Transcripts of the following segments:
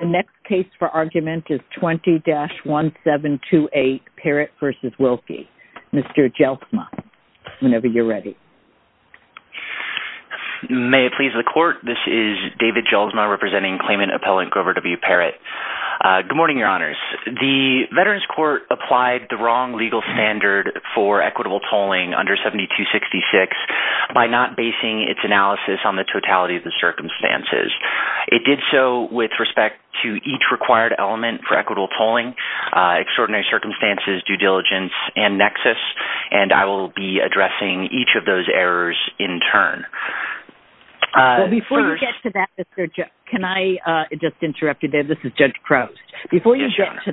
The next case for argument is 20-1728 Parrott v. Wilkie. Mr. Jelzma, whenever you're ready. May it please the court, this is David Jelzma representing claimant appellant Grover W. Parrott. Good morning your honors. The Veterans Court applied the wrong legal standard for equitable tolling under 7266 by not basing its analysis on the totality of the circumstances. It did so with respect to each required element for equitable tolling, extraordinary circumstances, due diligence, and nexus, and I will be addressing each of those errors in turn. Well before you get to that, Mr. Jelzma, can I just interrupt you there? This is Judge Crouse. Before you get to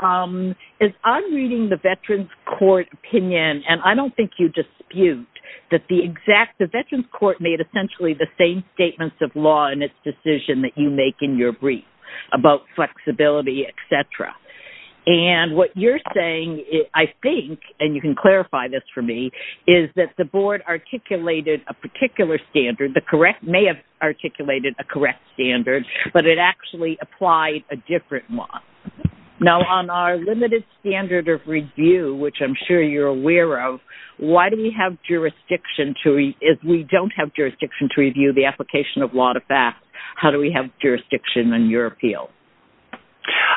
that, as I'm reading the Veterans Court opinion, and I don't think you dispute that the exact, the Veterans Court made essentially the same statements of law in its decision that you make in your brief about flexibility, etc. And what you're saying, I think, and you can clarify this for me, is that the board articulated a particular standard, the correct, may have articulated a correct standard, but it actually applied a different one. Now on our limited standard of review, which I'm sure you're aware of, why do we have jurisdiction to, if we don't have jurisdiction to review the application of law to pass, how do we have jurisdiction in your appeal?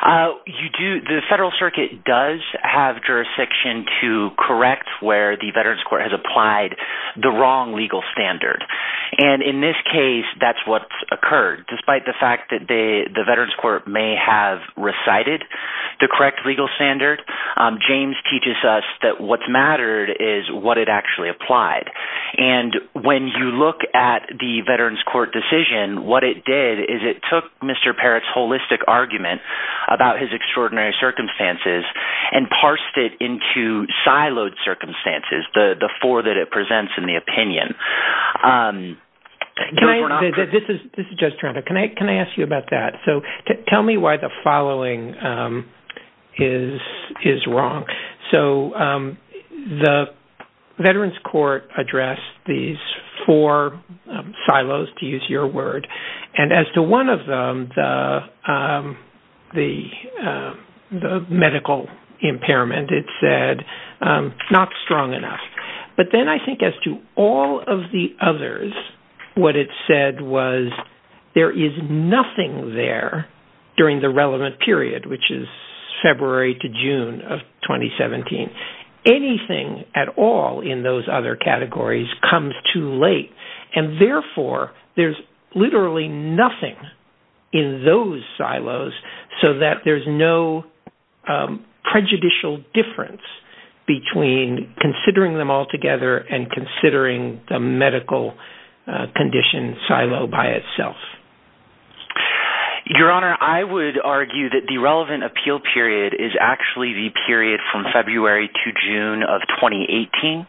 You do, the Federal Circuit does have jurisdiction to correct where the Veterans Court has applied the wrong legal standard. And in this case, that's what's occurred. Despite the fact that the Veterans Court may have recited the correct legal standard, James teaches us that what's mattered is what it actually applied. And when you look at the Veterans Court decision, what it did is it took Mr. Parrott's holistic argument about his extraordinary circumstances and parsed it into siloed circumstances, the four that it This is Judge Toronto. Can I ask you about that? So tell me why the following is wrong. So the Veterans Court addressed these four silos, to use your word, and as to one of them, the medical impairment, it said, not strong enough. But then I think as to all of the others, what it said was, there is nothing there during the relevant period, which is February to June of 2017. Anything at all in those other categories comes too late. And therefore, there's literally nothing in those silos, so that there's no prejudicial difference between considering them all together and considering the medical condition silo by itself. Your Honor, I would argue that the relevant appeal period is actually the period from February to June of 2018.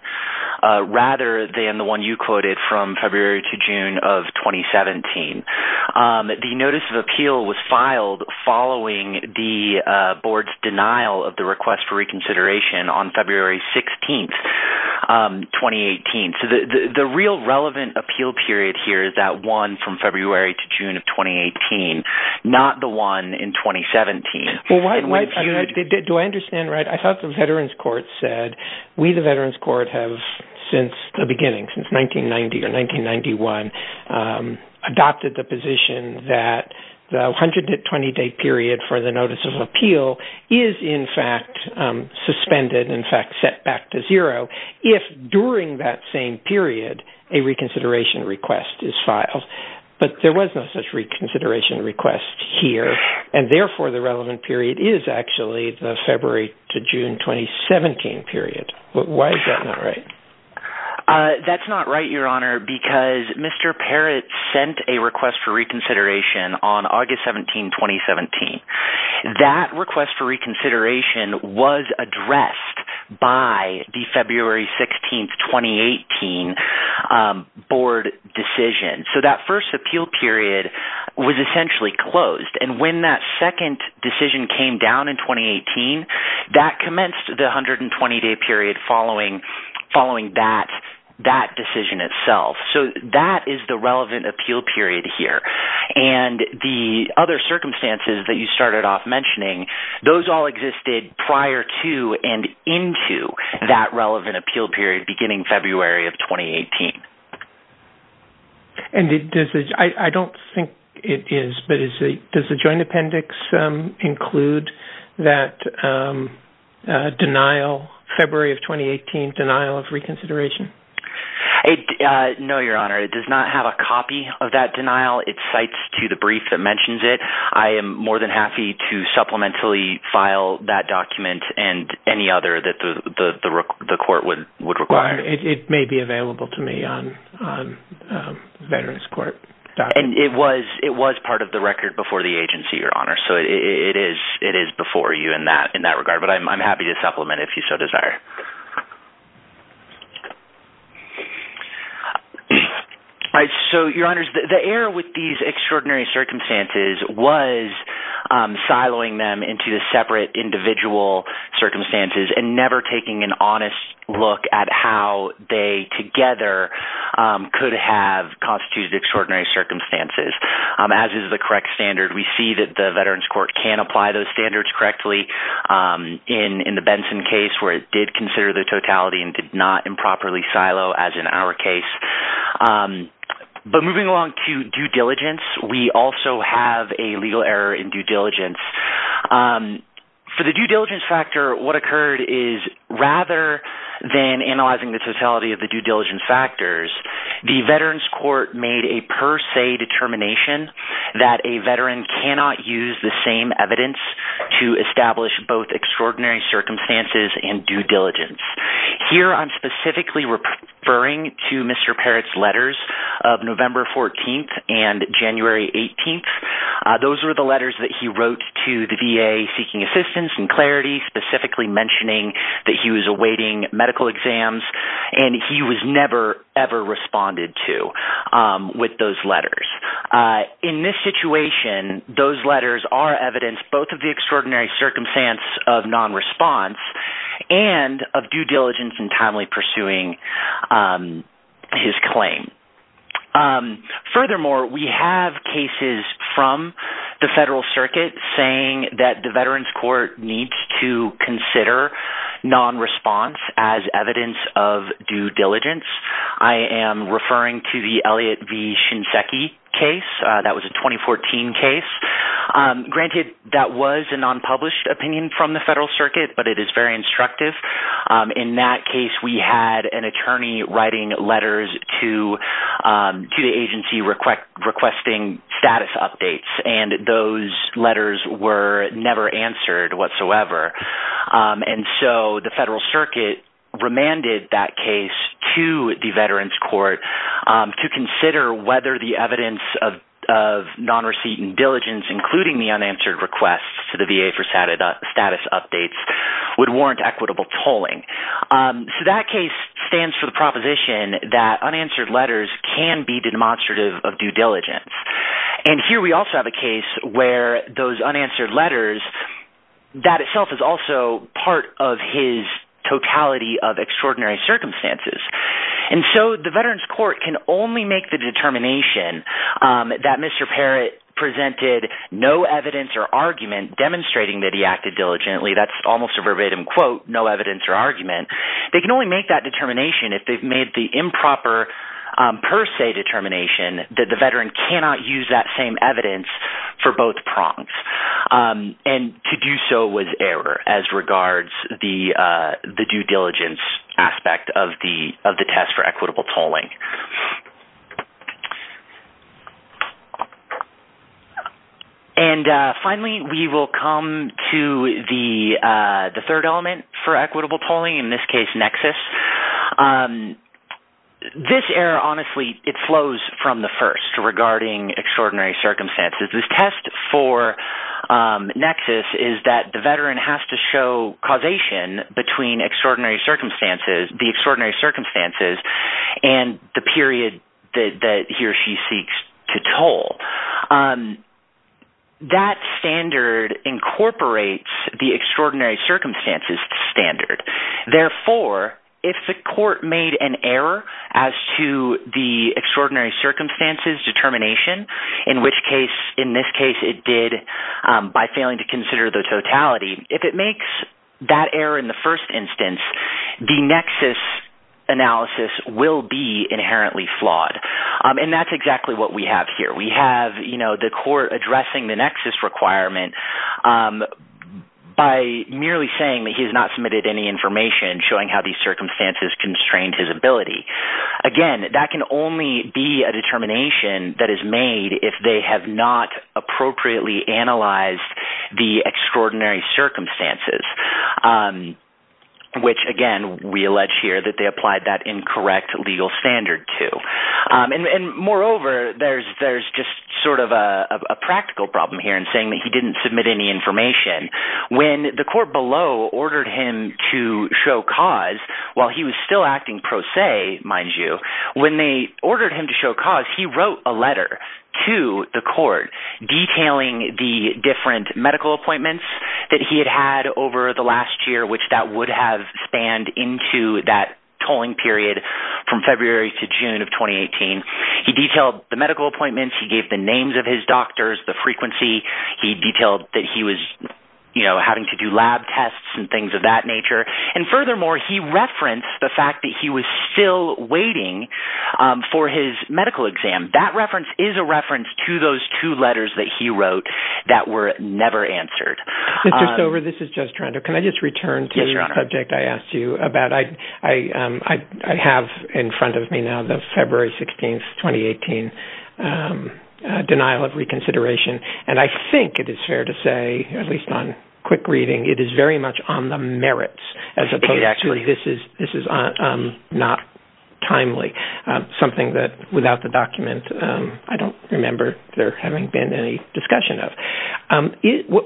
Rather than the one you quoted from following the board's denial of the request for reconsideration on February 16, 2018. So the real relevant appeal period here is that one from February to June of 2018, not the one in 2017. Well, do I understand right? I thought the Veterans Court said, we the Veterans Court have, since the 20 day period for the notice of appeal is in fact, suspended, in fact, set back to zero, if during that same period, a reconsideration request is filed. But there was no such reconsideration request here. And therefore, the relevant period is actually the February to June 2017 period. Why is that not right? That's not right, Your Honor, because Mr. Perritt sent a request for reconsideration on August 17, 2017. That request for reconsideration was addressed by the February 16, 2018 board decision. So that first appeal period was essentially closed. And when that second decision came down in 2018, that decision itself. So that is the relevant appeal period here. And the other circumstances that you started off mentioning, those all existed prior to and into that relevant appeal period beginning February of 2018. And I don't think it is, but does the Joint Appendix include that denial, February of 2018, denial of reconsideration? No, Your Honor, it does not have a copy of that denial. It cites to the brief that mentions it. I am more than happy to supplementally file that document and any other that the court would require. It may be available to me on VeteransCourt.org. And it was part of the record before the agency, Your Honor. So it is before you in that regard. But I'm happy to supplement if you so desire. All right. So, Your Honors, the error with these extraordinary circumstances was siloing them into the separate individual circumstances and never taking an honest look at how they together could have constituted extraordinary circumstances. As is the correct standard, we see that the Veterans Court can apply those standards correctly in the Benson case where it did consider the totality and did not improperly silo as in our case. But moving along to due diligence, we also have a legal error in due diligence. For the due diligence factor, what occurred is rather than analyzing the totality of the due diligence factors, the Veterans Court made a per se determination that a veteran cannot use the same evidence to establish both extraordinary circumstances and non-response. In this situation, those letters are evidence both of the extraordinary circumstance of non-response and of due diligence and timely pursuing his claim. Furthermore, we have cases from the federal circuit saying that the Veterans Court needs to consider non-response as evidence of due diligence. I am referring to the Elliott v. Shinseki case. That was a 2014 case. Granted, that was a non-published opinion from the federal circuit, but it is very instructive. In that case, we had an attorney writing letters to the agency requesting status updates. Those letters were never answered whatsoever. The federal circuit remanded that case to the Veterans Court to consider whether the evidence of non-receipt and diligence, including the waiver status updates, would warrant equitable tolling. That case stands for the proposition that unanswered letters can be demonstrative of due diligence. Here, we also have a case where those unanswered letters is also part of his totality of extraordinary circumstances. The Veterans Court can only make the determination that Mr. Parrott presented no evidence or argument stating that he acted diligently. That is almost a verbatim quote, no evidence or argument. They can only make that determination if they have made the improper per se determination that the Veteran cannot use that same evidence for both prongs. To do so with error as regards the due diligence aspect of the test for equitable tolling. Finally, we will come to the third element for equitable tolling, in this case, nexus. This error, honestly, it flows from the first regarding extraordinary circumstances. This test for nexus is that the Veteran has to show causation between the extraordinary circumstances and the period that he or she seeks to toll. That standard incorporates the extraordinary circumstances standard. Therefore, if the court made an error as to the extraordinary circumstances determination, in which case, in this case, it did by analysis, will be inherently flawed. That is exactly what we have here. We have the court addressing the nexus requirement by merely saying that he has not submitted any information showing how these circumstances constrain his ability. Again, that can only be a determination that is applied that incorrect legal standard to. Moreover, there is just sort of a practical problem here in saying that he did not submit any information. When the court below ordered him to show cause while he was still acting pro se, mind you, when they ordered him to show cause, he wrote a letter to the court detailing the different medical appointments that he had had over the last year, which that would have spanned into that tolling period from February to June of 2018. He detailed the medical appointments, he gave the names of his doctors, the frequency, he detailed that he was, you know, having to do lab tests and things of that nature. And furthermore, he referenced the fact that he was still waiting for his medical exam. That reference is a reference to those two letters that he wrote that were never answered. Mr. Stover, this is Judge Toronto. Can I just return to the subject I asked you about? I have in front of me now the February 16, 2018 denial of reconsideration. And I think it is fair to say, at least on quick reading, it is very much on the merits, as opposed to this is not timely. Something that without the document, I don't remember there having been any discussion of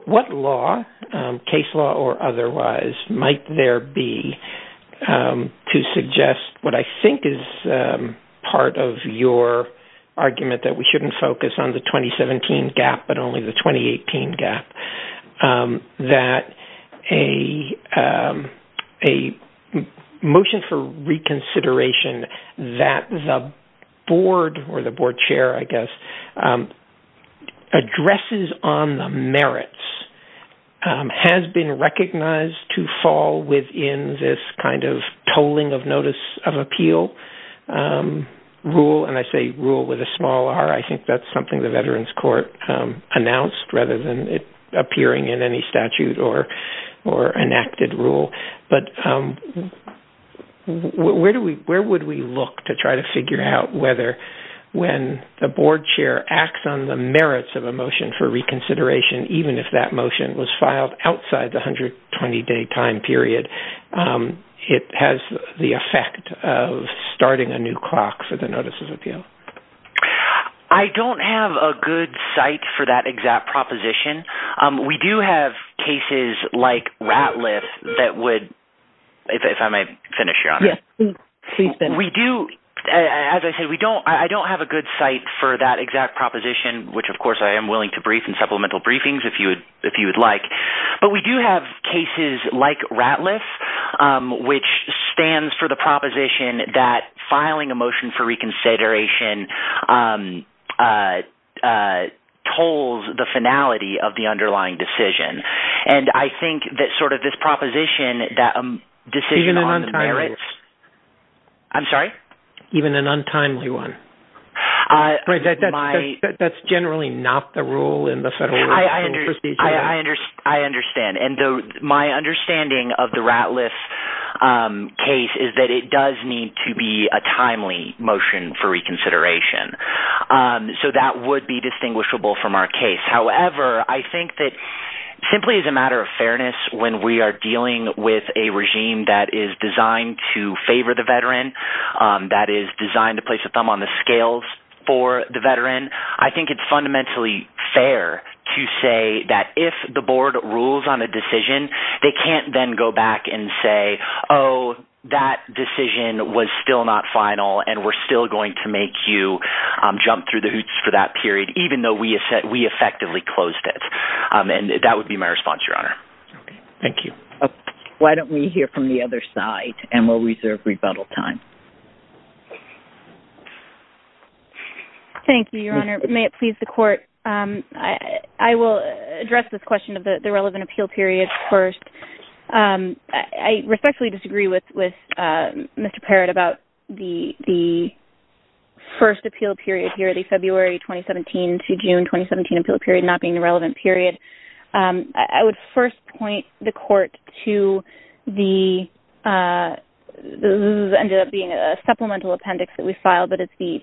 what law, case law or otherwise might there be to suggest what I shouldn't focus on the 2017 gap, but only the 2018 gap. That a motion for reconsideration that the board or the board chair, I guess, addresses on the merits of a motion for reconsideration, even if that motion was filed outside the 120-day time period, it has the effect of starting a new clock for the notices of appeal. I don't have a good site for that exact proposition. We do have cases like Ratliff that would, if I may finish, Your Honor. Yes, please finish. We do, as I said, I don't have a good site for that exact proposition, which of course I am willing to brief in supplemental briefings if you would like. But we do have cases like that filing a motion for reconsideration tolls the finality of the underlying decision. And I think that sort of this proposition that a decision on the merits… Even an untimely one. I'm sorry? Even an untimely one. That's generally not the rule in the federal legal procedure. I understand. And my understanding of the Ratliff case is that it does need to be a timely motion for reconsideration. So that would be distinguishable from our case. However, I think that simply as a matter of fairness, when we are dealing with a regime that is designed to favor the veteran, that is designed to place a thumb on the scales for the veteran, I think it's fundamentally fair to say that if the board rules on a decision, they can't then go back and say, oh, that decision was still not final and we're still going to make you jump through the hoops for that period, even though we effectively closed it. And that would be my response, Your Honor. Thank you. Why don't we hear from the other side and we'll reserve rebuttal time. Thank you, Your Honor. May it please the court, I will address this question of the relevant appeal period first. I respectfully disagree with Mr. Parrott about the first appeal period here, the February 2017 to June 2017 appeal period not being a relevant period. I would first point the court to the – this ended up being a supplemental appendix that we filed, but it's the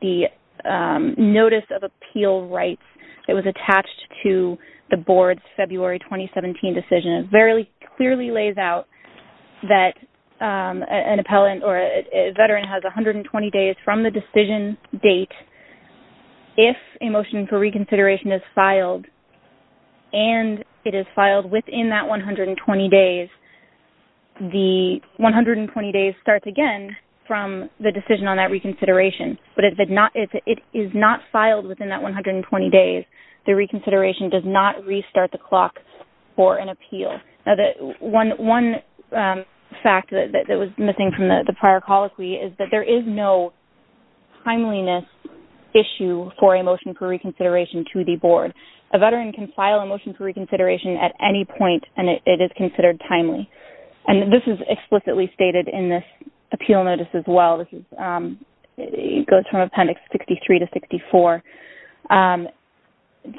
notice of appeal rights that was attached to the board's February 2017 decision. And it very clearly lays out that an appellant or a veteran has 120 days from the decision date if a motion for reconsideration is filed and it is filed within that 120 days, the 120 days starts again from the decision on that reconsideration. But if it is not filed within that 120 days, the reconsideration does not restart the clock for an appeal. One fact that was missing from the prior colloquy is that there is no timeliness issue for a motion for reconsideration to the board. A veteran can file a motion for reconsideration at any point and it is considered timely. And this is explicitly stated in this appeal notice as well. It goes from Appendix 63 to 64.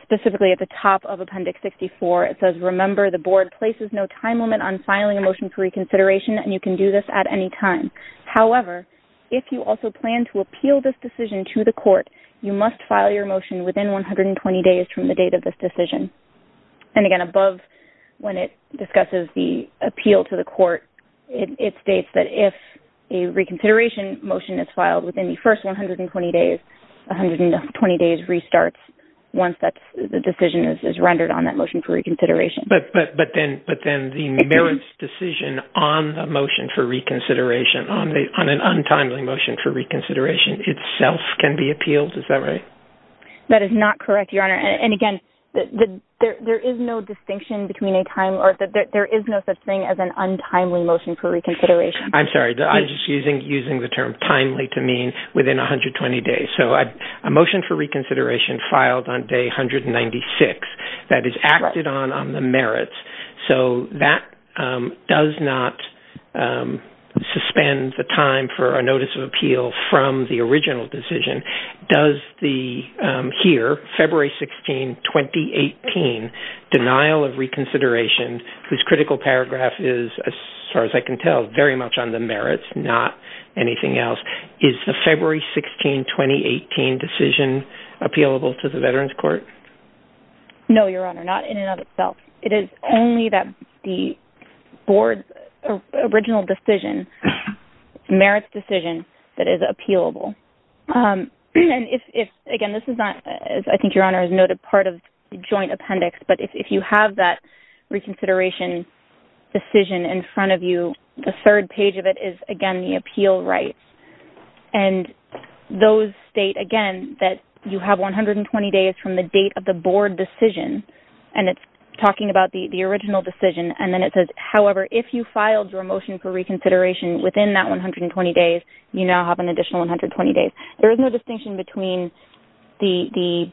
Specifically at the top of Appendix 64, it says, remember the board places no time limit on filing a motion for reconsideration and you can do this at any time. However, if you also plan to appeal this decision to the court, you must file your motion within 120 days from the date of this decision. And again, above when it discusses the appeal to the court, it states that if a reconsideration motion is filed within the first 120 days, 120 days restarts once the decision is rendered on that motion for reconsideration. But then the merits decision on the motion for reconsideration, on an untimely motion for reconsideration itself can be appealed. Is that right? That is not correct, Your Honor. And again, there is no such thing as an untimely motion for reconsideration. I'm sorry. I'm just using the term timely to mean within 120 days. A motion for reconsideration filed on day 196 that is acted on on the merits. So that does not suspend the time for a notice of appeal from the original decision. Here, February 16, 2018, denial of reconsideration, whose critical paragraph is, as far as I can tell, very much on the merits, not anything else. Is the February 16, 2018 decision appealable to the Veterans Court? No, Your Honor, not in and of itself. It is only that the board's original decision, merits decision, that is appealable. And if, again, this is not, as I think Your Honor has noted, part of the joint appendix, but if you have that reconsideration decision in front of you, the third page of it is, again, the appeal rights. And those state, again, that you have 120 days from the date of the board decision. And it's talking about the original decision. And then it says, however, if you filed your motion for reconsideration within that 120 days, you now have an additional 120 days. There is no distinction between the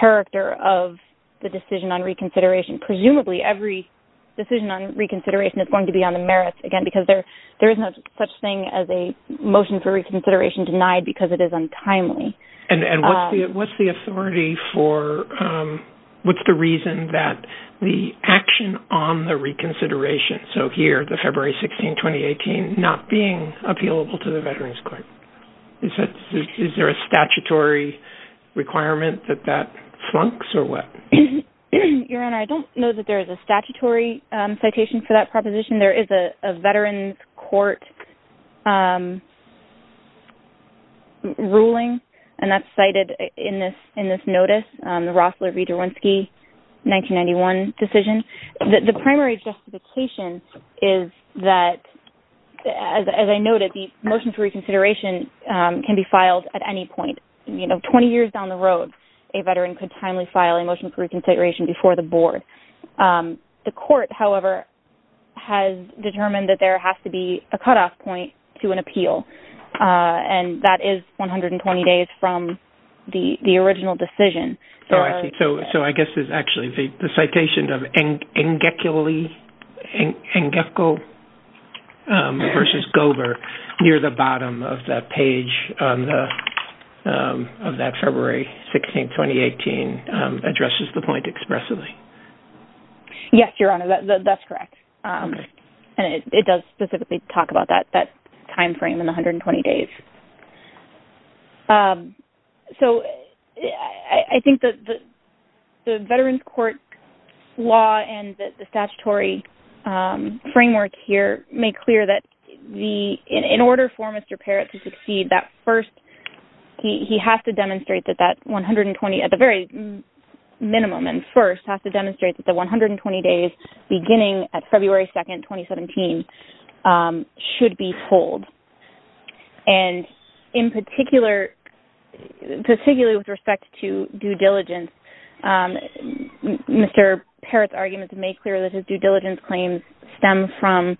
character of the decision on reconsideration. And presumably every decision on reconsideration is going to be on the merits, again, because there is no such thing as a motion for reconsideration denied because it is untimely. And what's the authority for, what's the reason that the action on the reconsideration, so here, the February 16, 2018, not being appealable to the Veterans Court? Is there a statutory requirement that that flunks or what? Your Honor, I don't know that there is a statutory citation for that proposition. There is a Veterans Court ruling, and that's cited in this notice, the Rossler v. Derwinski 1991 decision. The primary justification is that, as I noted, the motion for reconsideration can be filed at any point. And 20 years down the road, a Veteran could timely file a motion for reconsideration before the board. The court, however, has determined that there has to be a cutoff point to an appeal. And that is 120 days from the original decision. Oh, I see. So I guess it's actually the citation of Engecko v. Gover near the bottom of that page of that February 16, 2018 addresses the point expressively. Yes, Your Honor, that's correct. And it does specifically talk about that timeframe in the 120 days. So I think the Veterans Court law and the statutory framework here make clear that in order for Mr. Parrott to succeed, that first he has to demonstrate that that 120, at the very minimum and first, has to demonstrate that the 120 days beginning at February 2, 2017 should be pulled. And in particular, particularly with respect to due diligence, Mr. Parrott's arguments make clear that his due diligence claims stem from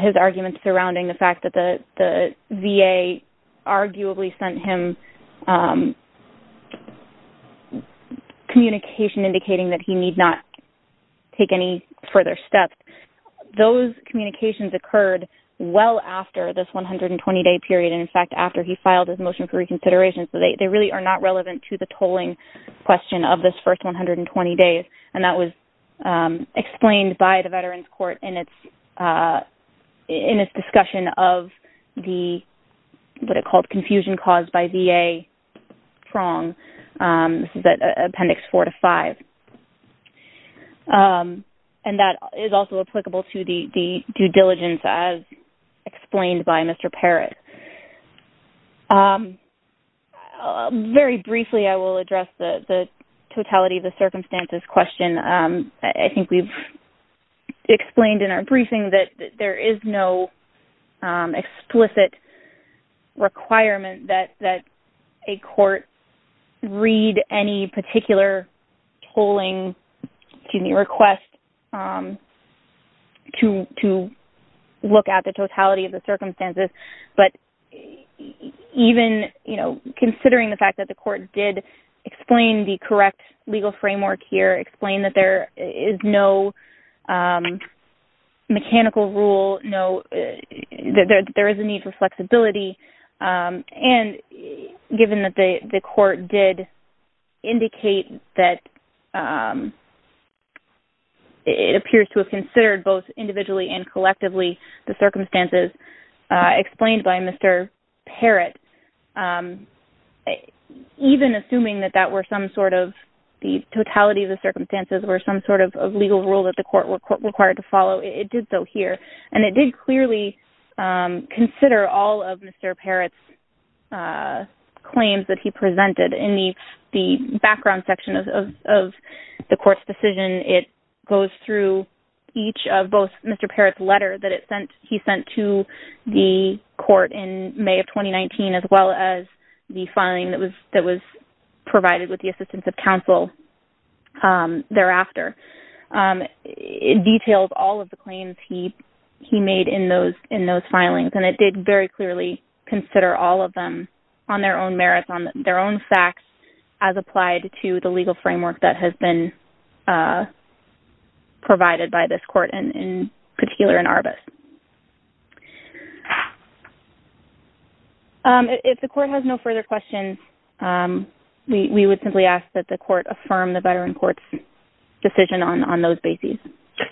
his arguments surrounding the fact that the VA arguably sent him communication indicating that he need not take any further steps. Those communications occurred well after this 120-day period. And, in fact, after he filed his motion for reconsideration. So they really are not relevant to the tolling question of this first 120 days. And that was explained by the Veterans Court in its discussion of the, what it called, confusion caused by VA prong. This is Appendix 4 to 5. And that is also applicable to the due diligence as explained by Mr. Parrott. Very briefly, I will address the totality of the circumstances question. I think we've explained in our briefing that there is no explicit requirement that a court read any particular tolling request to look at the totality of the circumstances. But even considering the fact that the court did explain the correct legal framework here, explain that there is no mechanical rule, that there is a need for flexibility, and given that the court did indicate that it appears to have considered both individually and collectively the circumstances explained by Mr. Parrott, even assuming that that were some sort of, the totality of the circumstances were some sort of legal rule that the court required to follow, it did so here. And it did clearly consider all of Mr. Parrott's claims that he presented. In the background section of the court's decision, it goes through each of both Mr. Parrott's letters that he sent to the court in May of 2019, as well as the filing that was provided with the assistance of counsel thereafter. It details all of the claims he made in those filings, and it did very clearly consider all of them on their own merits, on their own facts, as applied to the legal framework that has been provided by this court in particular in Arbus. If the court has no further questions, we would simply ask that the court affirm the veteran court's decision on those bases.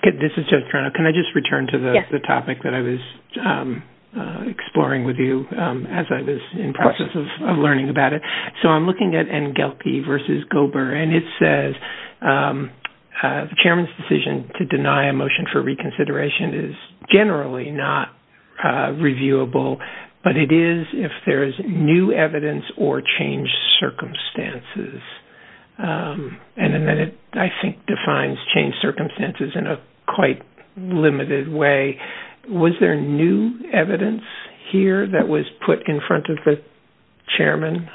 This is Judge Toronto. Can I just return to the topic that I was exploring with you as I was in process of learning about it? So I'm looking at Ngelke v. Gober, and it says the chairman's decision to deny a motion for reconsideration is generally not reviewable, but it is if there is new evidence or changed circumstances. And then it, I think, defines changed circumstances in a quite limited way. Was there new evidence here that was put in front of the chairman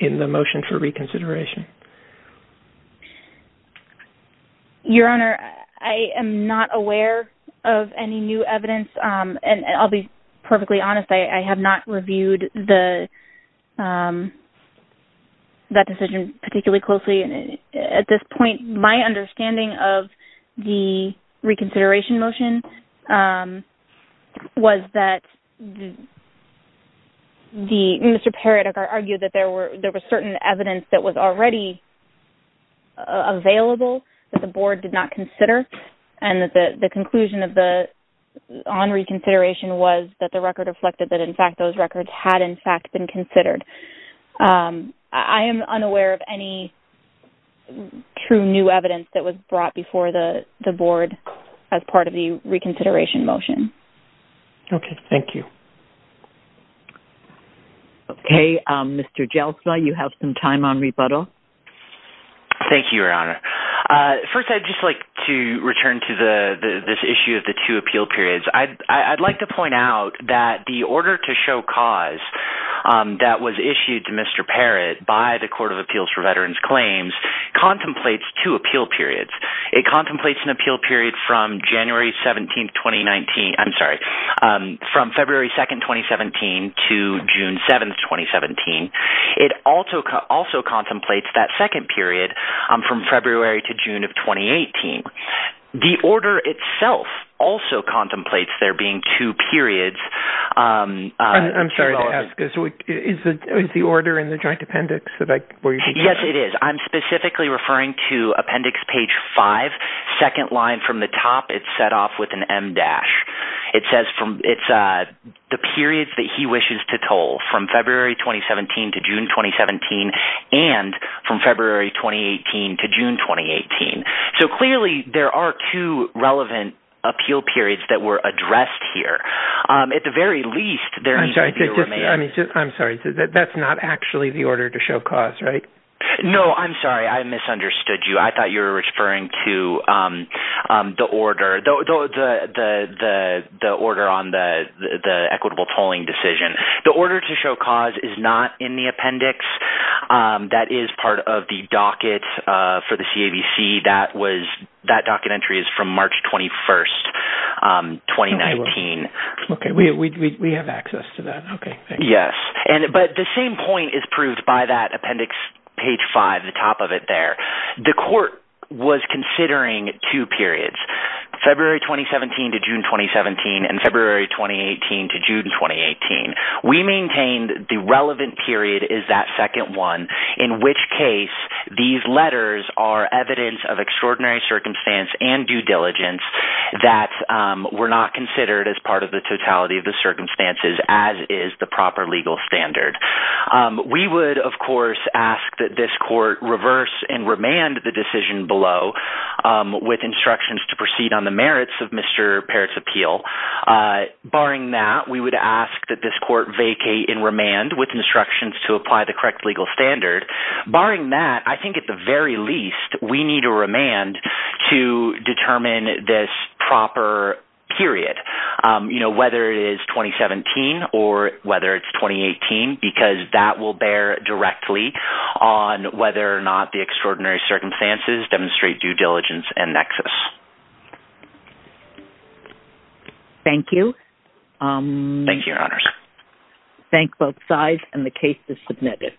in the motion for reconsideration? Your Honor, I am not aware of any new evidence, and I'll be perfectly honest. I have not reviewed that decision particularly closely. At this point, my understanding of the reconsideration motion was that Mr. Peredek argued that there was certain evidence that was already available that the board did not consider, and that the conclusion on reconsideration was that the record reflected that, in fact, those records had, in fact, been considered. I am unaware of any true new evidence that was brought before the board as part of the reconsideration motion. Okay. Thank you. Okay. Mr. Jeltsa, you have some time on rebuttal. Thank you, Your Honor. First, I'd just like to return to this issue of the two appeal periods. I'd like to point out that the order to show cause that was issued to Mr. Peredek by the Court of Appeals for Veterans Claims contemplates two appeal periods. It contemplates an appeal period from February 2, 2017 to June 7, 2017. It also contemplates that second period from February to June of 2018. The order itself also contemplates there being two periods. I'm sorry to ask. Is the order in the joint appendix where you're talking about? Yes, it is. I'm specifically referring to appendix page 5, second line from the top. It's set off with an M-dash. It says it's the period that he wishes to toll from February 2017 to June 2017 and from February 2018 to June 2018. Clearly, there are two relevant appeal periods that were addressed here. At the very least, there needs to be a remand. I'm sorry. That's not actually the order to show cause, right? No, I'm sorry. I misunderstood you. I thought you were referring to the order on the equitable tolling decision. The order to show cause is not in the appendix. That is part of the docket for the CAVC. That docket entry is from March 21, 2019. We have access to that. Yes, but the same point is proved by that appendix, page 5, the top of it there. The court was considering two periods, February 2017 to June 2017 and February 2018 to June 2018. We maintain the relevant period is that second one, in which case these letters are evidence of extraordinary circumstance and due diligence that were not considered as part of the totality of the circumstances as is the proper legal standard. We would, of course, ask that this court reverse and remand the decision below with instructions to proceed on the merits of Mr. Parrott's appeal. Barring that, we would ask that this court vacate and remand with instructions to apply the correct legal standard. Barring that, I think at the very least, we need a remand to determine this proper period, whether it is 2017 or whether it is 2018 because that will bear directly on whether or not the extraordinary circumstances demonstrate due diligence and nexus. Thank you. Thank you, Your Honors. Thank both sides and the case is submitted.